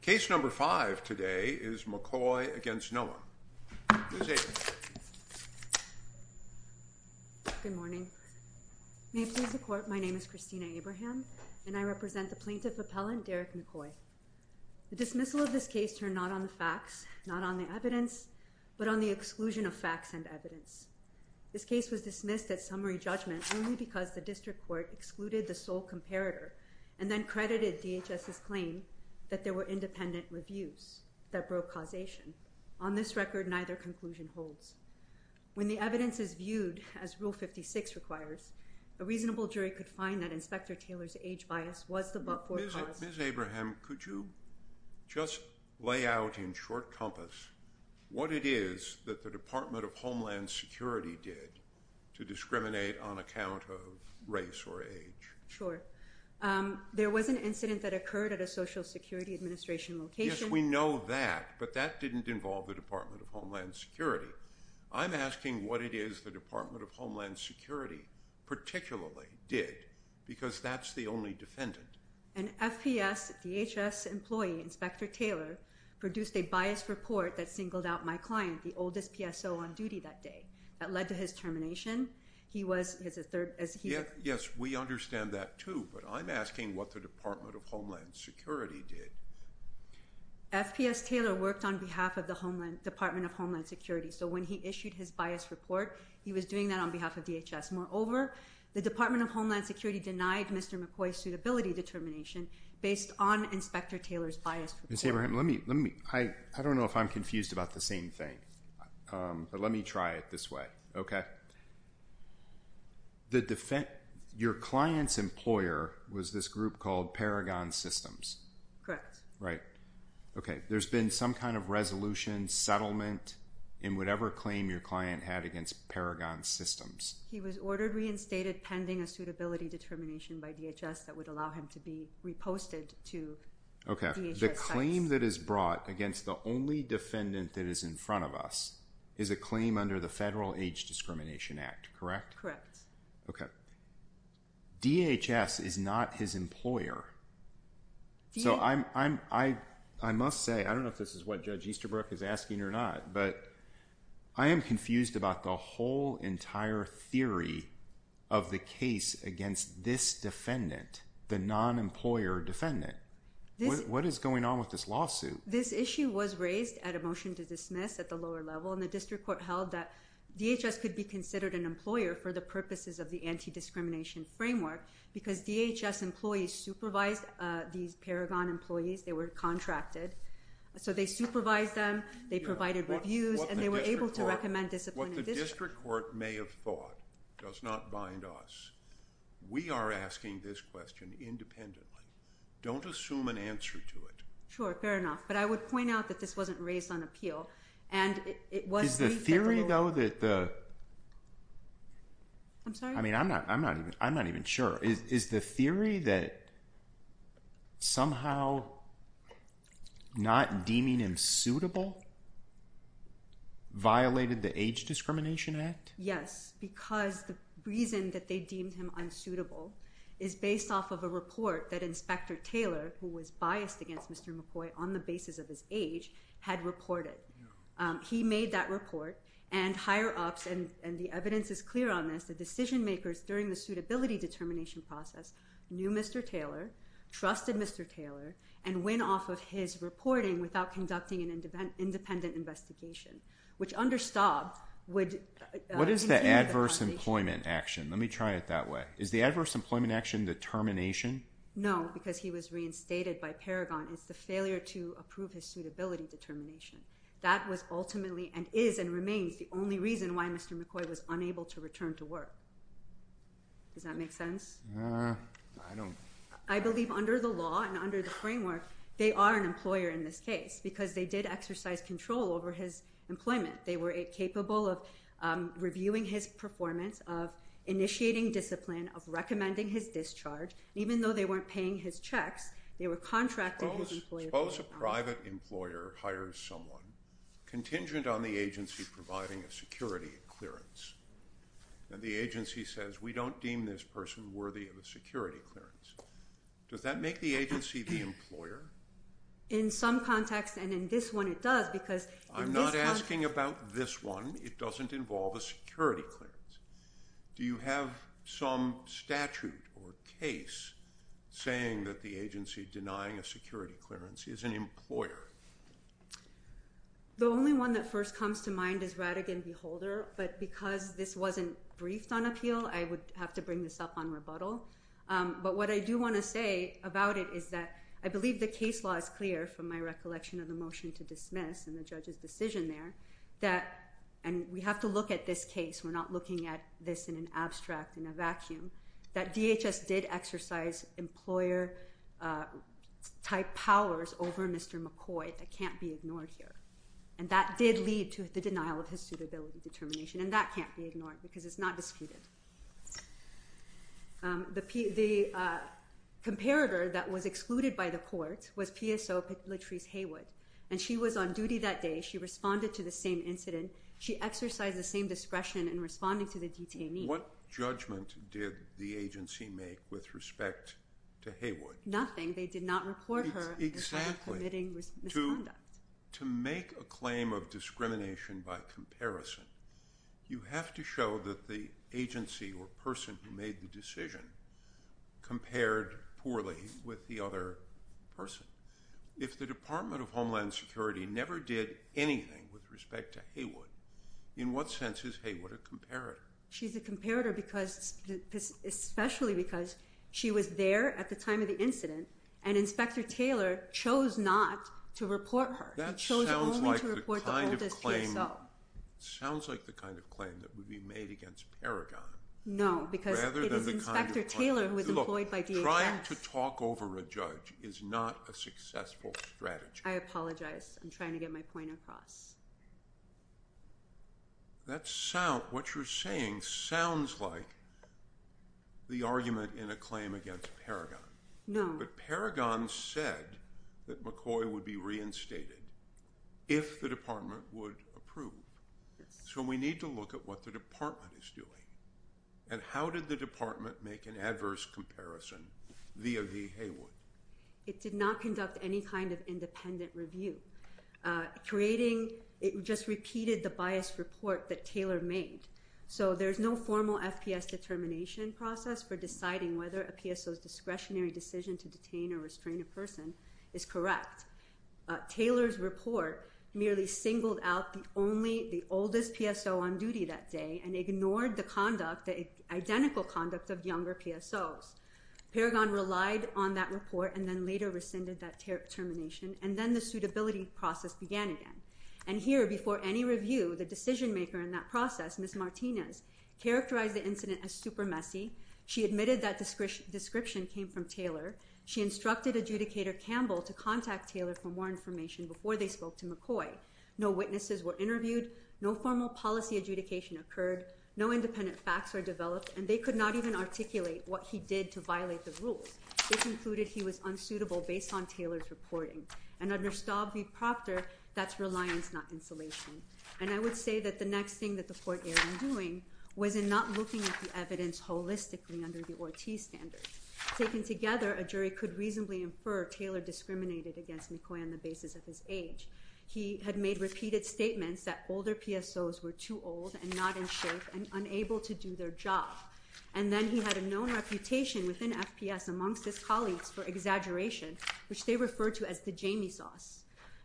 Case No. 5 today is McCoy v. Noem. Ms. Abram. Good morning. May it please the Court, my name is Kristina Abraham, and I represent the Plaintiff Appellant, Derrick McCoy. The dismissal of this case turned not on the facts, not on the evidence, but on the exclusion of facts and evidence. This case was dismissed at summary judgment only because the District Court excluded the sole comparator and then credited DHS's claim that there were independent reviews that broke causation. On this record, neither conclusion holds. When the evidence is viewed as Rule 56 requires, a reasonable jury could find that Inspector Taylor's age bias was the forecast. Ms. Abraham, could you just lay out in short compass what it is that the Department of Homeland Security did to discriminate on account of race or age? Sure. There was an incident that occurred at a Social Security Administration location. Yes, we know that, but that didn't involve the Department of Homeland Security. I'm asking what it is the Department of Homeland Security particularly did, because that's the only defendant. An FPS, DHS employee, Inspector Taylor, produced a biased report that singled out my client, the oldest PSO on duty that day. That led to his termination. Yes, we understand that, too, but I'm asking what the Department of Homeland Security did. FPS Taylor worked on behalf of the Department of Homeland Security, so when he issued his biased report, he was doing that on behalf of DHS. Moreover, the Department of Homeland Security denied Mr. McCoy's suitability determination based on Inspector Taylor's biased report. Ms. Abraham, I don't know if I'm confused about the same thing, but let me try it this way. Okay. Your client's employer was this group called Paragon Systems. Correct. Right. Okay. There's been some kind of resolution, settlement, in whatever claim your client had against Paragon Systems. He was ordered reinstated pending a suitability determination by DHS that would allow him to be reposted to DHS sites. The claim that is brought against the only defendant that is in front of us is a claim under the Federal Age Discrimination Act, correct? Okay. DHS is not his employer. So I must say, I don't know if this is what Judge Easterbrook is asking or not, but I am confused about the whole entire theory of the case against this defendant, the non-employer defendant. What is going on with this lawsuit? This issue was raised at a motion to dismiss at the lower level, and the District Court held that DHS could be considered an employer for the purposes of the anti-discrimination framework because DHS employees supervised these Paragon employees. They were contracted. So they supervised them. They provided reviews, and they were able to recommend discipline. What the District Court may have thought does not bind us. We are asking this question independently. Don't assume an answer to it. Sure, fair enough. But I would point out that this wasn't raised on appeal. Is the theory, though, that somehow not deeming him suitable violated the Age Discrimination Act? Yes, because the reason that they deemed him unsuitable is based off of a report that Inspector Taylor, who was biased against Mr. McCoy on the basis of his age, had reported. He made that report, and higher-ups, and the evidence is clear on this, the decision-makers during the suitability determination process knew Mr. Taylor, trusted Mr. Taylor, and went off of his reporting without conducting an independent investigation, which under Staub would include the compensation. What is the adverse employment action? Let me try it that way. Is the adverse employment action determination? No, because he was reinstated by Paragon. It's the failure to approve his suitability determination. That was ultimately and is and remains the only reason why Mr. McCoy was unable to return to work. Does that make sense? I believe under the law and under the framework, they are an employer in this case because they did exercise control over his employment. They were capable of reviewing his performance, of initiating discipline, of recommending his discharge. Even though they weren't paying his checks, they were contracting his employment. Suppose a private employer hires someone contingent on the agency providing a security clearance, and the agency says, we don't deem this person worthy of a security clearance. Does that make the agency the employer? In some context, and in this one, it does because in this one— I'm not asking about this one. It doesn't involve a security clearance. Do you have some statute or case saying that the agency denying a security clearance is an employer? The only one that first comes to mind is Rattigan v. Holder. But because this wasn't briefed on appeal, I would have to bring this up on rebuttal. But what I do want to say about it is that I believe the case law is clear from my recollection of the motion to dismiss and the judge's decision there. And we have to look at this case. We're not looking at this in an abstract, in a vacuum. That DHS did exercise employer-type powers over Mr. McCoy that can't be ignored here. And that did lead to the denial of his suitability determination, and that can't be ignored because it's not disputed. The comparator that was excluded by the court was PSO Latrice Haywood, and she was on duty that day. She responded to the same incident. She exercised the same discretion in responding to the detainee. What judgment did the agency make with respect to Haywood? Nothing. They did not report her for committing misconduct. To make a claim of discrimination by comparison, you have to show that the agency or person who made the decision compared poorly with the other person. If the Department of Homeland Security never did anything with respect to Haywood, in what sense is Haywood a comparator? She's a comparator, especially because she was there at the time of the incident, and Inspector Taylor chose not to report her. He chose only to report the oldest PSO. That sounds like the kind of claim that would be made against Paragon. No, because it is Inspector Taylor who was employed by DHS. Look, trying to talk over a judge is not a successful strategy. I apologize. I'm trying to get my point across. What you're saying sounds like the argument in a claim against Paragon. No. But Paragon said that McCoy would be reinstated if the department would approve. So we need to look at what the department is doing. And how did the department make an adverse comparison via the Haywood? It did not conduct any kind of independent review. It just repeated the biased report that Taylor made. So there's no formal FPS determination process for deciding whether a PSO's discretionary decision to detain or restrain a person is correct. Taylor's report merely singled out the oldest PSO on duty that day and ignored the conduct, the identical conduct of younger PSOs. Paragon relied on that report and then later rescinded that termination. And then the suitability process began again. And here, before any review, the decision maker in that process, Ms. Martinez, characterized the incident as super messy. She admitted that description came from Taylor. She instructed adjudicator Campbell to contact Taylor for more information before they spoke to McCoy. No witnesses were interviewed. No formal policy adjudication occurred. No independent facts were developed. And they could not even articulate what he did to violate the rules. They concluded he was unsuitable based on Taylor's reporting. And under Staub v. Proctor, that's reliance, not insulation. And I would say that the next thing that the court ended up doing was in not looking at the evidence holistically under the Ortiz standard. Taken together, a jury could reasonably infer Taylor discriminated against McCoy on the basis of his age. He had made repeated statements that older PSOs were too old and not in shape and unable to do their job. And then he had a known reputation within FPS amongst his colleagues for exaggeration, which they referred to as the Jamie sauce.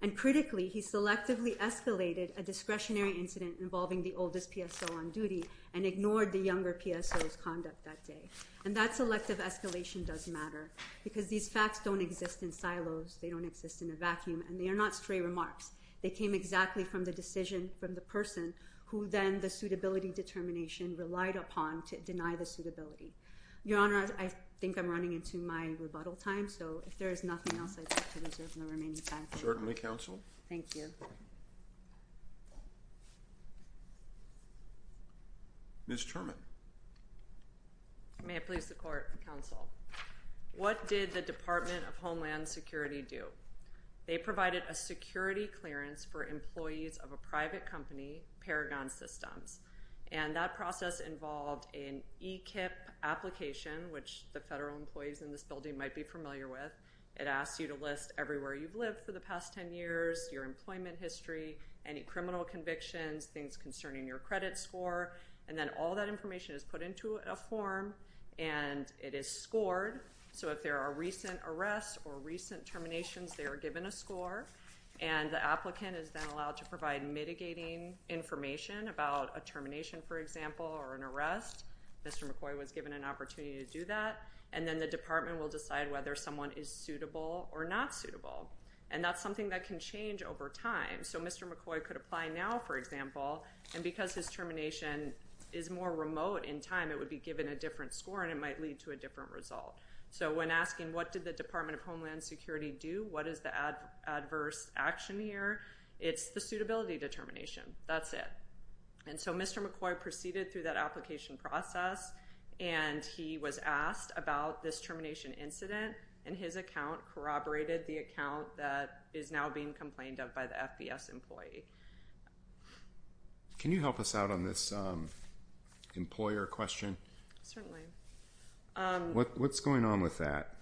And critically, he selectively escalated a discretionary incident involving the oldest PSO on duty and ignored the younger PSO's conduct that day. And that selective escalation does matter because these facts don't exist in silos. They don't exist in a vacuum. And they are not stray remarks. They came exactly from the decision from the person who then the suitability determination relied upon to deny the suitability. Your Honor, I think I'm running into my rebuttal time. So, if there is nothing else, I'd like to reserve the remaining time. Certainly, counsel. Thank you. Ms. Terman. May it please the court, counsel. What did the Department of Homeland Security do? They provided a security clearance for employees of a private company, Paragon Systems. And that process involved an e-kip application, which the federal employees in this building might be familiar with. It asks you to list everywhere you've lived for the past 10 years, your employment history, any criminal convictions, things concerning your credit score. And then all that information is put into a form and it is scored. So, if there are recent arrests or recent terminations, they are given a score. And the applicant is then allowed to provide mitigating information about a termination, for example, or an arrest. Mr. McCoy was given an opportunity to do that. And then the department will decide whether someone is suitable or not suitable. And that's something that can change over time. So, Mr. McCoy could apply now, for example. And because his termination is more remote in time, it would be given a different score and it might lead to a different result. So, when asking what did the Department of Homeland Security do, what is the adverse action here, it's the suitability determination. That's it. And so, Mr. McCoy proceeded through that application process and he was asked about this termination incident. And his account corroborated the account that is now being complained of by the FBS employee. Can you help us out on this employer question? What's going on with that?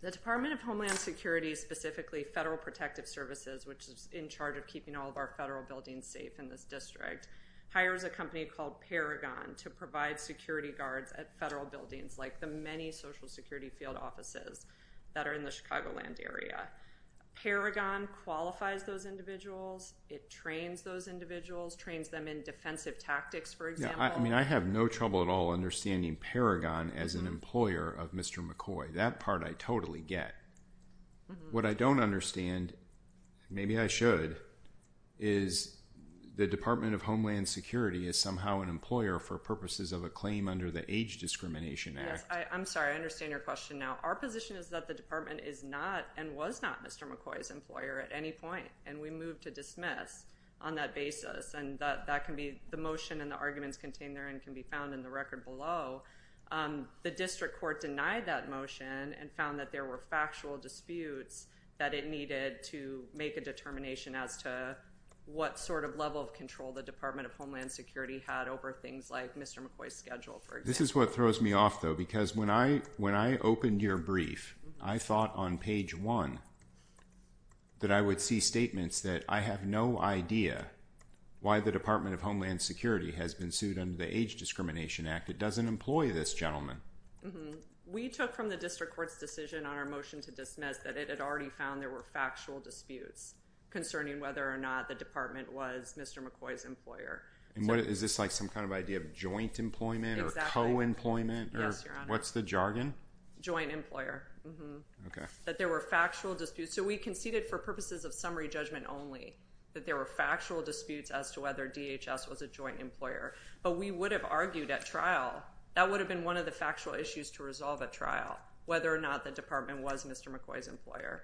The Department of Homeland Security, specifically Federal Protective Services, which is in charge of keeping all of our federal buildings safe in this district, hires a company called Paragon to provide security guards at federal buildings, like the many Social Security field offices that are in the Chicagoland area. Paragon qualifies those individuals. It trains those individuals, trains them in defensive tactics, for example. I mean, I have no trouble at all understanding Paragon as an employer of Mr. McCoy. That part I totally get. What I don't understand, maybe I should, is the Department of Homeland Security is somehow an employer for purposes of a claim under the Age Discrimination Act. Yes, I'm sorry. I understand your question now. Our position is that the department is not and was not Mr. McCoy's employer at any point. And we move to dismiss on that basis. And that can be the motion and the arguments contained therein can be found in the record below. The district court denied that motion and found that there were factual disputes that it needed to make a determination as to what sort of level of control the Department of Homeland Security had over things like Mr. McCoy's schedule, for example. This is what throws me off, though. Because when I opened your brief, I thought on page one that I would see statements that I have no idea why the Department of Homeland Security has been sued under the Age Discrimination Act. It doesn't employ this gentleman. We took from the district court's decision on our motion to dismiss that it had already found there were factual disputes concerning whether or not the department was Mr. McCoy's employer. Is this like some kind of idea of joint employment or co-employment? Yes, Your Honor. What's the jargon? Joint employer. Okay. That there were factual disputes. So we conceded for purposes of summary judgment only that there were factual disputes as to whether DHS was a joint employer. But we would have argued at trial, that would have been one of the factual issues to resolve at trial, whether or not the department was Mr. McCoy's employer.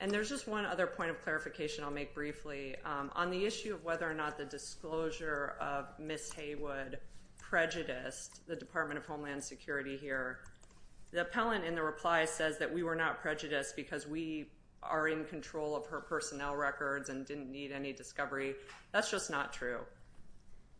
And there's just one other point of clarification I'll make briefly. On the issue of whether or not the disclosure of Ms. Haywood prejudiced the Department of Homeland Security here, the appellant in the reply says that we were not prejudiced because we are in control of her personnel records and didn't need any discovery. That's just not true.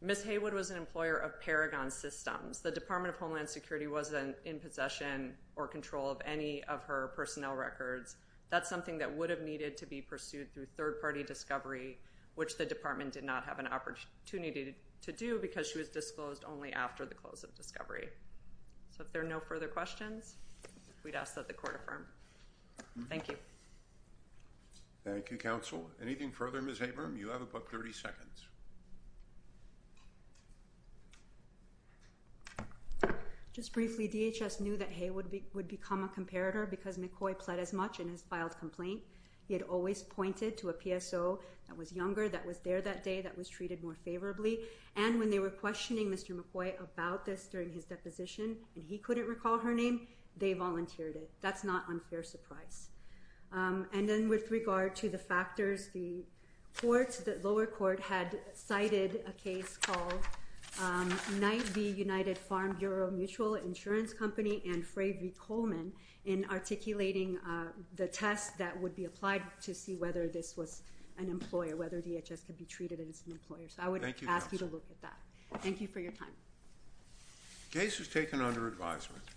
Ms. Haywood was an employer of Paragon Systems. The Department of Homeland Security wasn't in possession or control of any of her personnel records. That's something that would have needed to be pursued through third-party discovery, which the department did not have an opportunity to do because she was disclosed only after the close of discovery. So if there are no further questions, we'd ask that the court affirm. Thank you. Thank you, counsel. Anything further, Ms. Abram? You have about 30 seconds. Just briefly, DHS knew that Haywood would become a comparator because McCoy pled as much in his filed complaint. He had always pointed to a PSO that was younger, that was there that day, that was treated more favorably. And when they were questioning Mr. McCoy about this during his deposition and he couldn't recall her name, they volunteered it. That's not unfair surprise. And then with regard to the factors, the courts, the lower court had cited a case called Knight v. United Farm Bureau Mutual Insurance Company and Fray v. Coleman in articulating the test that would be applied to see whether this was an employer, whether DHS could be treated as an employer. So I would ask you to look at that. Thank you for your time. The case was taken under advisement.